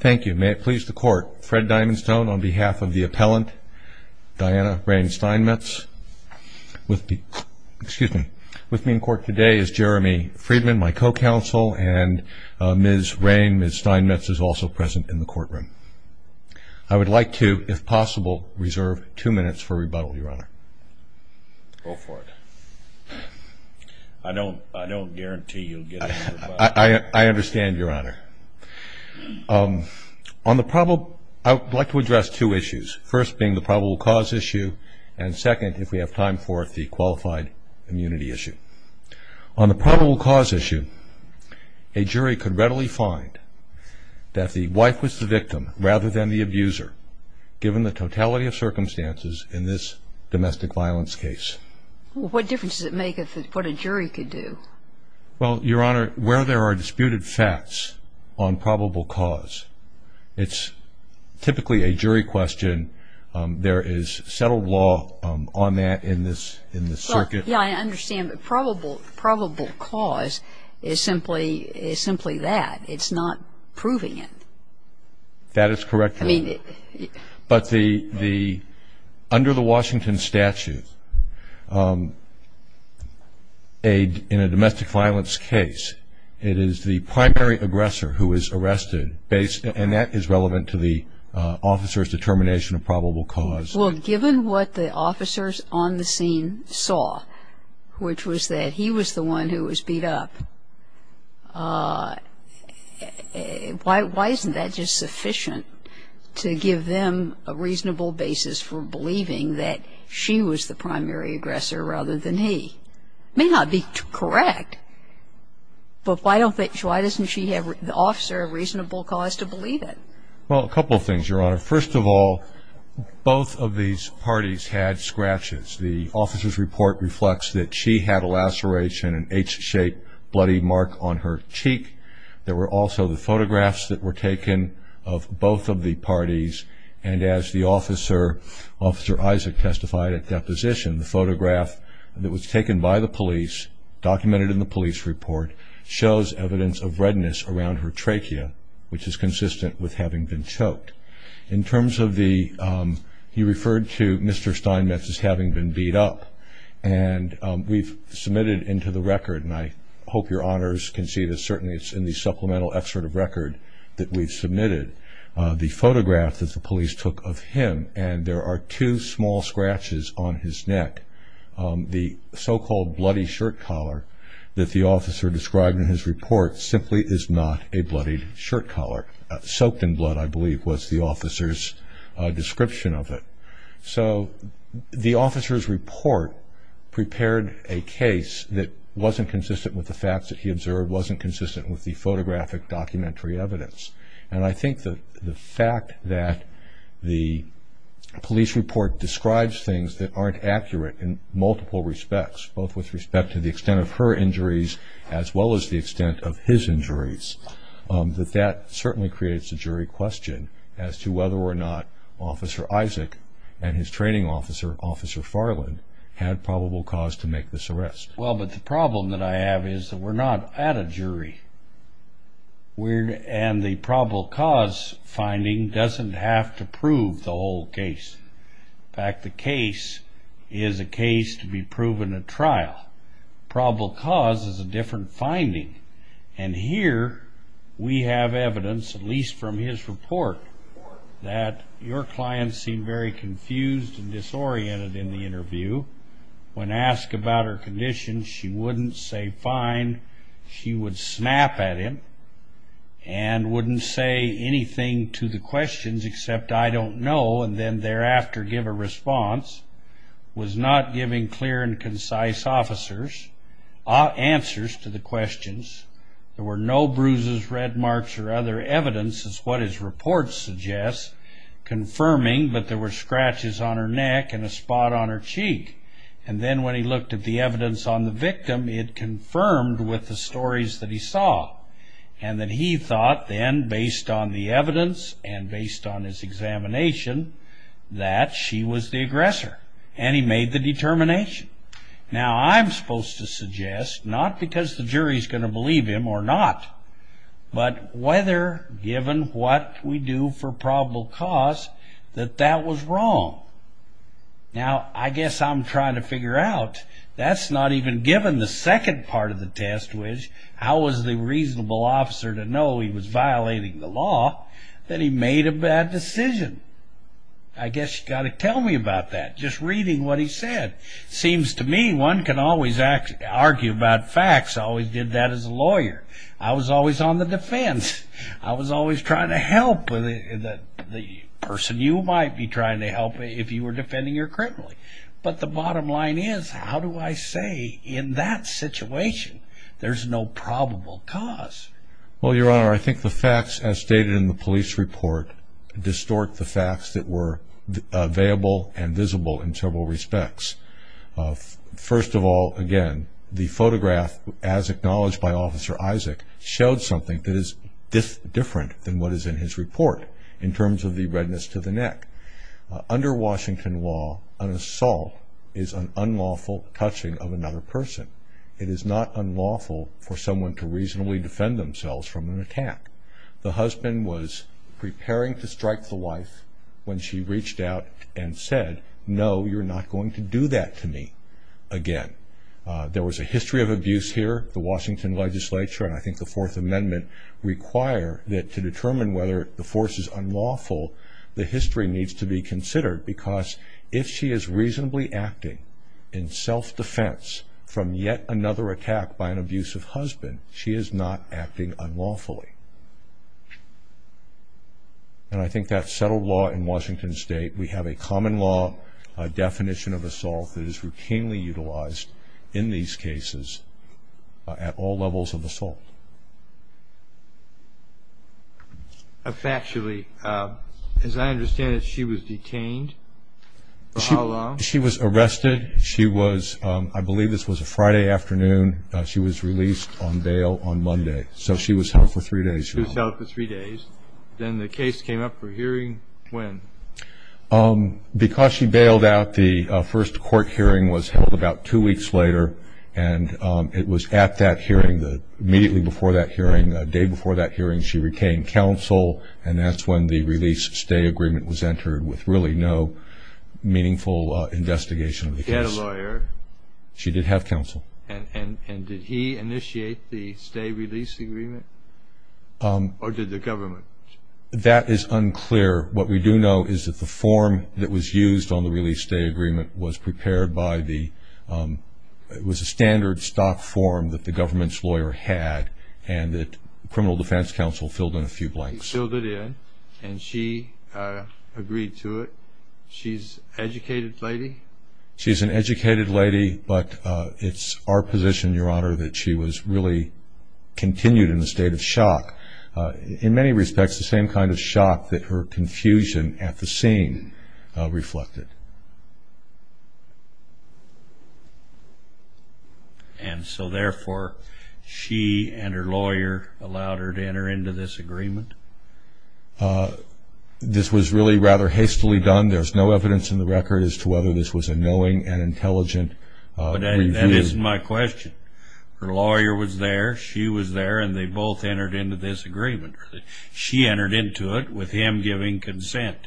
Thank you. May it please the court, Fred Diamonstone on behalf of the appellant, Diana Raine Steinmetz. With me in court today is Jeremy Friedman, my co-counsel, and Ms. Raine, Ms. Steinmetz is also present in the courtroom. I would like to, if possible, reserve two minutes for rebuttal, your honor. Go for it. I don't guarantee you'll get any rebuttal. I understand, your honor. I would like to address two issues, first being the probable cause issue, and second, if we have time for it, the qualified immunity issue. On the probable cause issue, a jury could readily find that the wife was the victim rather than the abuser, given the totality of circumstances in this domestic violence case. What difference does it make as to what a jury could do? Well, your honor, where there are disputed facts on probable cause, it's typically a jury question. There is settled law on that in this circuit. Yeah, I understand, but probable cause is simply that. It's not proving it. That is correct, your honor. But under the Washington statute, in a domestic violence case, it is the primary aggressor who is arrested, and that is relevant to the officer's determination of probable cause. Well, given what the officers on the scene saw, which was that he was the one who was beat up, why isn't that just sufficient to give them a reasonable basis for believing that she was the primary aggressor rather than he? It may not be correct, but why doesn't she have the officer a reasonable cause to believe it? Well, a couple of things, your honor. First of all, both of these parties had scratches. The officer's report reflects that she had a laceration, an H-shaped bloody mark on her cheek. There were also the photographs that were taken of both of the parties, and as the officer, Officer Isaac, testified at deposition, the photograph that was taken by the police, documented in the police report, shows evidence of redness around her trachea, which is consistent with having been choked. In terms of the, he referred to Mr. Steinmetz as having been beat up, and we've submitted into the record, and I hope your honors can see this, certainly it's in the supplemental excerpt of record that we've submitted, the photograph that the police took of him, and there are two small scratches on his neck. The so-called bloody shirt collar that the officer described in his report simply is not a bloodied shirt collar. Soaked in blood, I believe, was the officer's description of it. So the officer's report prepared a case that wasn't consistent with the facts that he observed, wasn't consistent with the photographic documentary evidence, and I think the fact that the police report describes things that aren't accurate in multiple respects, both with respect to the extent of her injuries as well as the extent of his injuries, that that certainly creates a jury question as to whether or not Officer Isaac and his training officer, Officer Farland, had probable cause to make this arrest. Well, but the problem that I have is that we're not at a jury, and the probable cause finding doesn't have to prove the whole case. In fact, the case is a case to be proven at trial. Probable cause is a different finding, and here we have evidence, at least from his report, that your client seemed very confused and disoriented in the interview. When asked about her condition, she wouldn't say fine. She would snap at him and wouldn't say anything to the questions except, I don't know, and then thereafter give a response. Was not giving clear and concise answers to the questions. There were no bruises, red marks, or other evidence, as what his report suggests, confirming that there were scratches on her neck and a spot on her cheek. And then when he looked at the evidence on the victim, it confirmed with the stories that he saw and that he thought then, based on the evidence and based on his examination, that she was the aggressor, and he made the determination. Now, I'm supposed to suggest, not because the jury is going to believe him or not, but whether, given what we do for probable cause, that that was wrong. Now, I guess I'm trying to figure out, that's not even given the second part of the test, which is how was the reasonable officer to know he was violating the law, that he made a bad decision. I guess you've got to tell me about that, just reading what he said. Seems to me one can always argue about facts. I always did that as a lawyer. I was always on the defense. I was always trying to help the person you might be trying to help if you were defending your criminal. But the bottom line is, how do I say in that situation there's no probable cause? Well, Your Honor, I think the facts, as stated in the police report, distort the facts that were available and visible in several respects. First of all, again, the photograph, as acknowledged by Officer Isaac, showed something that is different than what is in his report in terms of the redness to the neck. Under Washington law, an assault is an unlawful touching of another person. It is not unlawful for someone to reasonably defend themselves from an attack. The husband was preparing to strike the wife when she reached out and said, no, you're not going to do that to me again. There was a history of abuse here. The Washington legislature, and I think the Fourth Amendment, require that to determine whether the force is unlawful, the history needs to be considered because if she is reasonably acting in self-defense from yet another attack by an abusive husband, she is not acting unlawfully. And I think that's settled law in Washington State. We have a common law definition of assault that is routinely utilized in these cases at all levels of assault. Factually, as I understand it, she was detained for how long? She was arrested. She was, I believe this was a Friday afternoon. She was released on bail on Monday. So she was held for three days. She was held for three days. Then the case came up for hearing when? Because she bailed out, the first court hearing was held about two weeks later, and it was at that hearing, immediately before that hearing, the day before that hearing, she retained counsel, and that's when the release-stay agreement was entered with really no meaningful investigation of the case. She had a lawyer. She did have counsel. And did he initiate the stay-release agreement? Or did the government? That is unclear. What we do know is that the form that was used on the release-stay agreement was prepared by the standard stock form that the government's lawyer had, and that criminal defense counsel filled in a few blanks. He filled it in, and she agreed to it. She's an educated lady? She's an educated lady, but it's our position, Your Honor, that she was really continued in a state of shock. In many respects, the same kind of shock that her confusion at the scene reflected. And so, therefore, she and her lawyer allowed her to enter into this agreement? This was really rather hastily done. There's no evidence in the record as to whether this was a knowing and intelligent review. That isn't my question. Her lawyer was there, she was there, and they both entered into this agreement. She entered into it with him giving consent.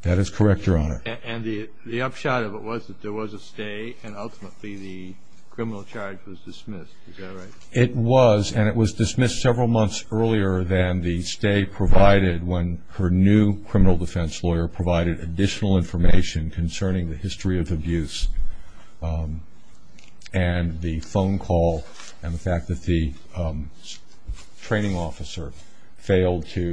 That is correct, Your Honor. And the upshot of it was that there was a stay, and ultimately the criminal charge was dismissed. Is that right? It was, and it was dismissed several months earlier than the stay provided when her new criminal defense lawyer provided additional information concerning the history of abuse and the phone call and the fact that the training officer failed to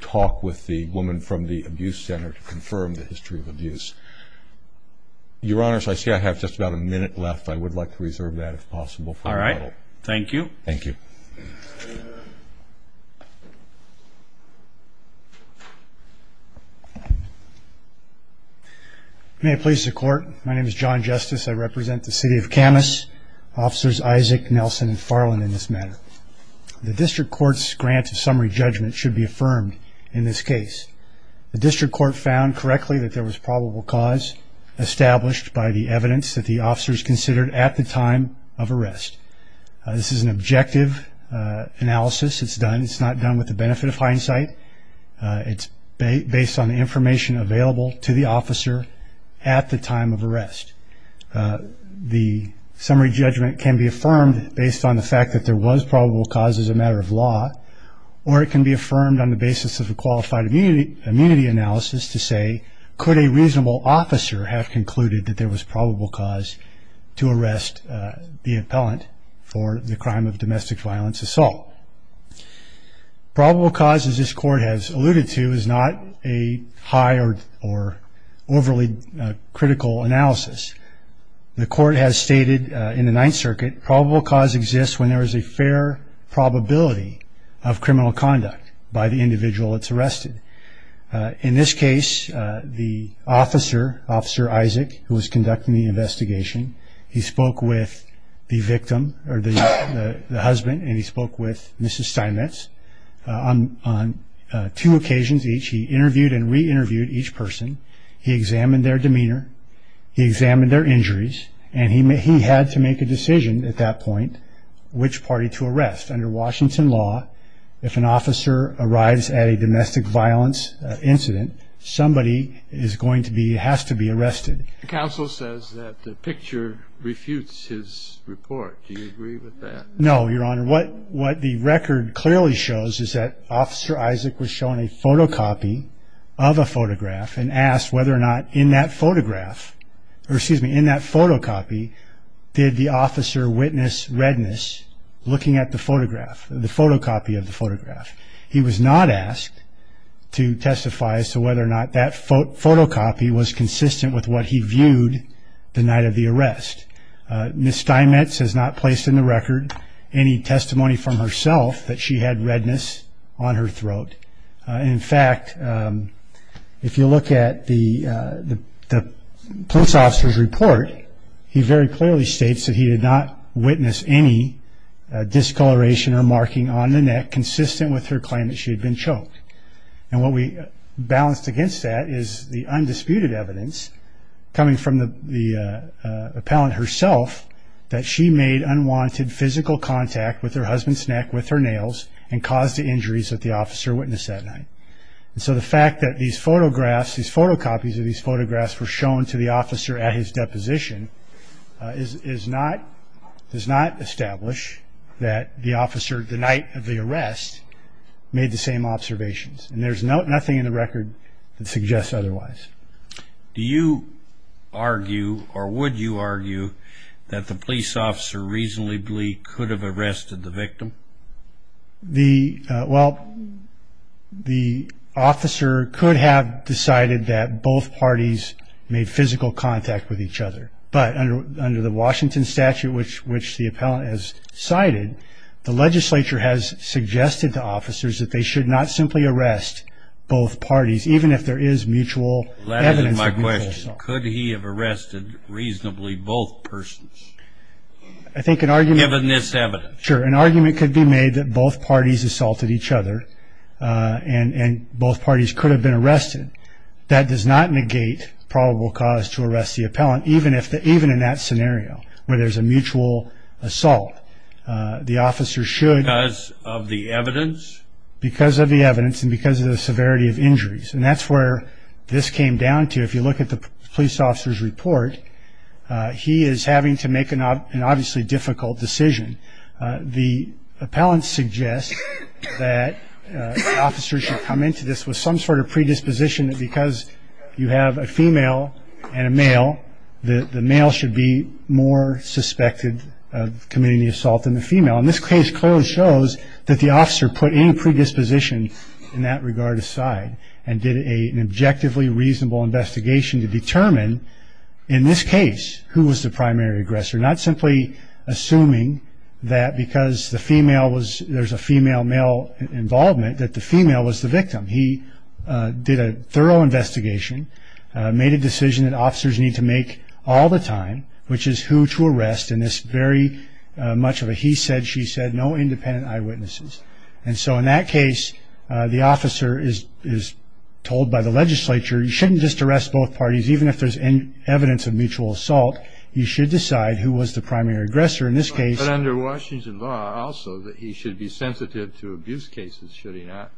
talk with the woman from the abuse center to confirm the history of abuse. Your Honors, I see I have just about a minute left. I would like to reserve that if possible. All right. Thank you. Thank you. May it please the Court, my name is John Justice. I represent the city of Kamas, officers Isaac, Nelson, and Farland in this matter. The district court's grant of summary judgment should be affirmed in this case. The district court found correctly that there was probable cause established by the evidence that the officers considered at the time of arrest. This is an objective analysis. It's done. It's not done with the benefit of hindsight. It's based on the information available to the officer at the time of arrest. The summary judgment can be affirmed based on the fact that there was probable cause as a matter of law, or it can be affirmed on the basis of a qualified immunity analysis to say, could a reasonable officer have concluded that there was probable cause to arrest the appellant for the crime of domestic violence assault? Probable cause, as this court has alluded to, is not a high or overly critical analysis. The court has stated in the Ninth Circuit, probable cause exists when there is a fair probability of criminal conduct by the individual that's arrested. In this case, the officer, Officer Isaac, who was conducting the investigation, he spoke with the victim or the husband, and he spoke with Mrs. Steinmetz. On two occasions each, he interviewed and re-interviewed each person. He examined their demeanor. He examined their injuries, and he had to make a decision at that point which party to arrest. Under Washington law, if an officer arrives at a domestic violence incident, somebody is going to be, has to be arrested. The counsel says that the picture refutes his report. Do you agree with that? No, Your Honor. What the record clearly shows is that Officer Isaac was shown a photocopy of a photograph and asked whether or not in that photograph, or excuse me, in that photocopy, did the officer witness redness looking at the photograph, the photocopy of the photograph. He was not asked to testify as to whether or not that photocopy was consistent with what he viewed the night of the arrest. Mrs. Steinmetz has not placed in the record any testimony from herself that she had redness on her throat. In fact, if you look at the police officer's report, he very clearly states that he did not witness any discoloration or marking on the neck consistent with her claim that she had been choked. And what we balanced against that is the undisputed evidence coming from the appellant herself that she made unwanted physical contact with her husband's neck with her nails and caused the injuries that the officer witnessed that night. And so the fact that these photographs, these photocopies of these photographs were shown to the officer at his deposition does not establish that the officer the night of the arrest made the same observations. And there's nothing in the record that suggests otherwise. Do you argue or would you argue that the police officer reasonably could have arrested the victim? Well, the officer could have decided that both parties made physical contact with each other. But under the Washington statute, which the appellant has cited, the legislature has suggested to officers that they should not simply arrest both parties, even if there is mutual evidence of mutual assault. That is my question. Could he have arrested reasonably both persons? I think an argument Given this evidence. Sure. An argument could be made that both parties assaulted each other and both parties could have been arrested. That does not negate probable cause to arrest the appellant, even in that scenario where there's a mutual assault. The officer should Because of the evidence? Because of the evidence and because of the severity of injuries. And that's where this came down to. If you look at the police officer's report, he is having to make an obviously difficult decision. The appellant suggests that officers should come into this with some sort of predisposition that because you have a female and a male, that the male should be more suspected of committing the assault than the female. In this case, Cohen shows that the officer put any predisposition in that regard aside and did an objectively reasonable investigation to determine, in this case, who was the primary aggressor, not simply assuming that because there's a female-male involvement that the female was the victim. He did a thorough investigation, made a decision that officers need to make all the time, which is who to arrest in this very much of a he said, she said, no independent eyewitnesses. And so in that case, the officer is told by the legislature, you shouldn't just arrest both parties even if there's evidence of mutual assault. You should decide who was the primary aggressor in this case. But under Washington law, also, that he should be sensitive to abuse cases, should he not?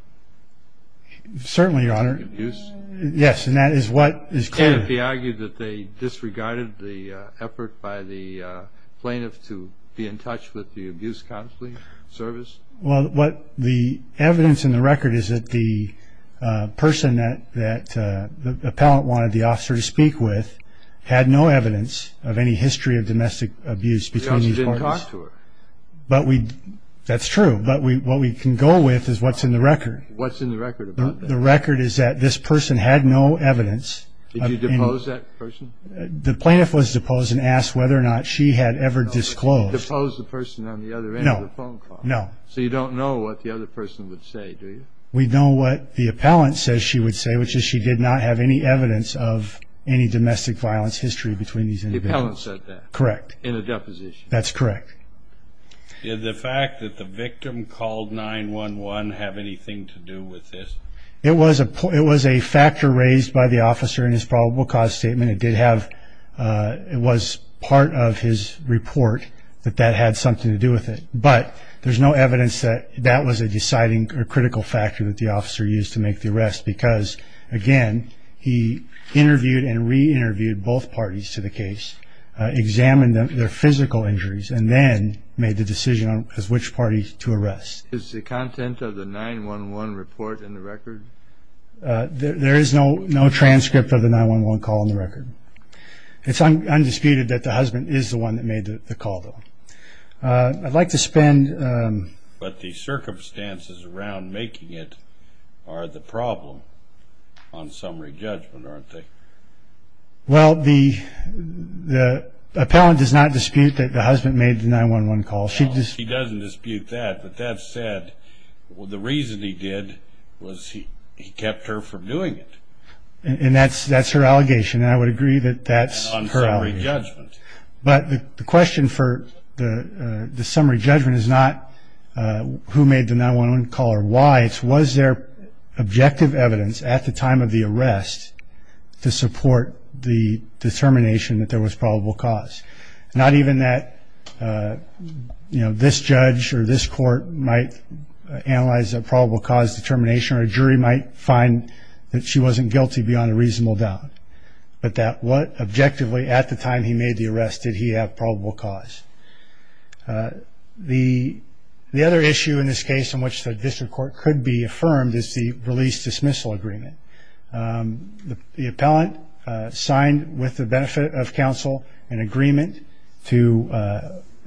Certainly, Your Honor. Abuse? Yes, and that is what is clear. Could it be argued that they disregarded the effort by the plaintiff to be in touch with the abuse counseling service? Well, the evidence in the record is that the person that the appellant wanted the officer to speak with had no evidence of any history of domestic abuse between these parties. The officer didn't talk to her. That's true, but what we can go with is what's in the record. What's in the record about that? The record is that this person had no evidence. Did you depose that person? The plaintiff was deposed and asked whether or not she had ever disclosed. No, but you didn't depose the person on the other end of the phone call. No. So you don't know what the other person would say, do you? We know what the appellant says she would say, which is she did not have any evidence of any domestic violence history between these individuals. The appellant said that. Correct. In a deposition. That's correct. Did the fact that the victim called 911 have anything to do with this? It was a factor raised by the officer in his probable cause statement. It was part of his report that that had something to do with it, but there's no evidence that that was a deciding or critical factor that the officer used to make the arrest because, again, he interviewed and re-interviewed both parties to the case, examined their physical injuries, and then made the decision as which party to arrest. Is the content of the 911 report in the record? There is no transcript of the 911 call in the record. It's undisputed that the husband is the one that made the call, though. I'd like to spend... But the circumstances around making it are the problem on summary judgment, aren't they? Well, the appellant does not dispute that the husband made the 911 call. He doesn't dispute that, but that said, the reason he did was he kept her from doing it. And that's her allegation, and I would agree that that's her allegation. On summary judgment. But the question for the summary judgment is not who made the 911 call or why. It's was there objective evidence at the time of the arrest to support the determination that there was probable cause. Not even that this judge or this court might analyze a probable cause determination or a jury might find that she wasn't guilty beyond a reasonable doubt, but that what objectively at the time he made the arrest did he have probable cause. The other issue in this case in which the district court could be affirmed is the release-dismissal agreement. The appellant signed with the benefit of counsel an agreement to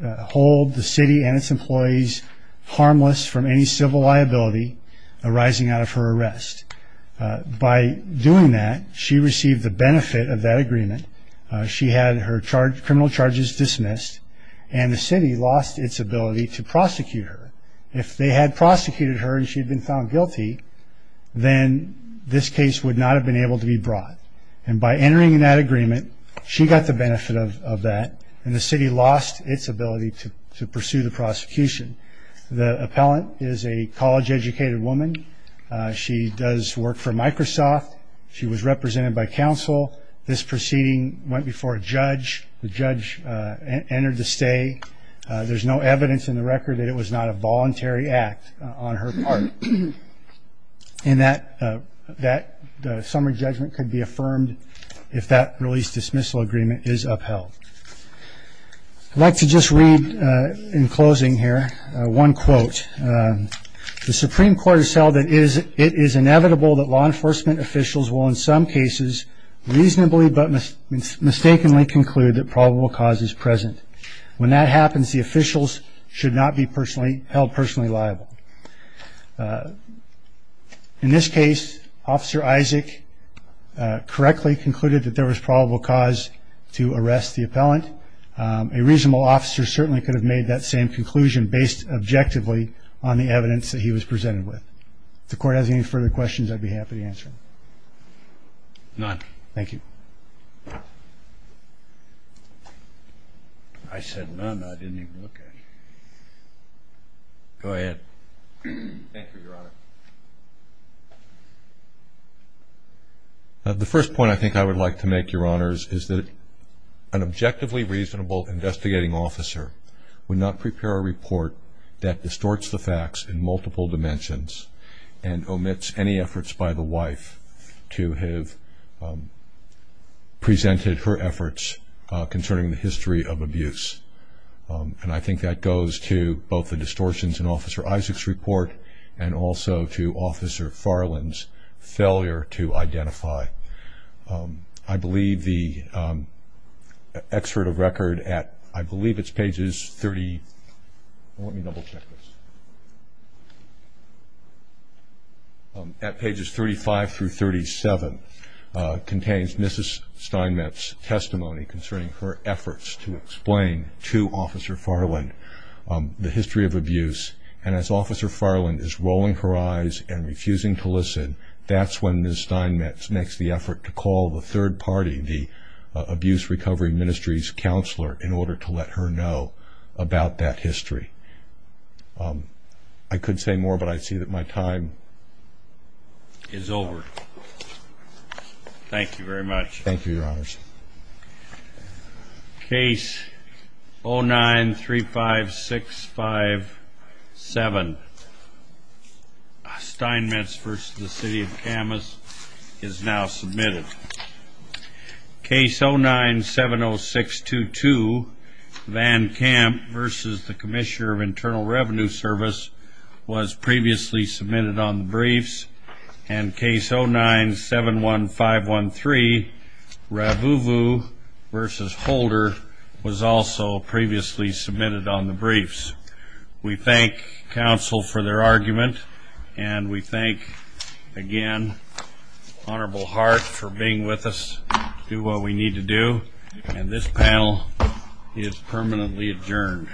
hold the city and its employees harmless from any civil liability arising out of her arrest. By doing that, she received the benefit of that agreement. She had her criminal charges dismissed, and the city lost its ability to prosecute her. If they had prosecuted her and she'd been found guilty, then this case would not have been able to be brought. And by entering that agreement, she got the benefit of that, and the city lost its ability to pursue the prosecution. The appellant is a college-educated woman. She does work for Microsoft. She was represented by counsel. This proceeding went before a judge. The judge entered the stay. There's no evidence in the record that it was not a voluntary act on her part. And that summary judgment could be affirmed if that release-dismissal agreement is upheld. I'd like to just read in closing here one quote. The Supreme Court has held that it is inevitable that law enforcement officials will in some cases reasonably but mistakenly conclude that probable cause is present. When that happens, the officials should not be held personally liable. In this case, Officer Isaac correctly concluded that there was probable cause to arrest the appellant. A reasonable officer certainly could have made that same conclusion based objectively on the evidence that he was presented with. If the Court has any further questions, I'd be happy to answer them. None. Thank you. I said none. I didn't even look at it. Go ahead. Thank you, Your Honor. The first point I think I would like to make, Your Honors, is that an objectively reasonable investigating officer would not prepare a report that distorts the facts in multiple dimensions and omits any efforts by the wife to have presented her efforts concerning the history of abuse. And I think that goes to both the distortions in Officer Isaac's report and also to Officer Farland's failure to identify. I believe the excerpt of record at pages 35 through 37 contains Mrs. Steinmetz's testimony concerning her efforts to explain to Officer Farland the history of abuse. And as Officer Farland is rolling her eyes and refusing to listen, that's when Mrs. Steinmetz makes the effort to call the third party, the Abuse Recovery Ministry's counselor, in order to let her know about that history. I could say more, but I see that my time is over. Thank you very much. Thank you, Your Honors. Case 09-35657, Steinmetz v. City of Kamas, is now submitted. Case 09-70622, Van Kamp v. Commissioner of Internal Revenue Service, was previously submitted on the briefs. And Case 09-71513, Ravuvu v. Holder, was also previously submitted on the briefs. We thank counsel for their argument, and we thank, again, Honorable Hart for being with us to do what we need to do. And this panel is permanently adjourned.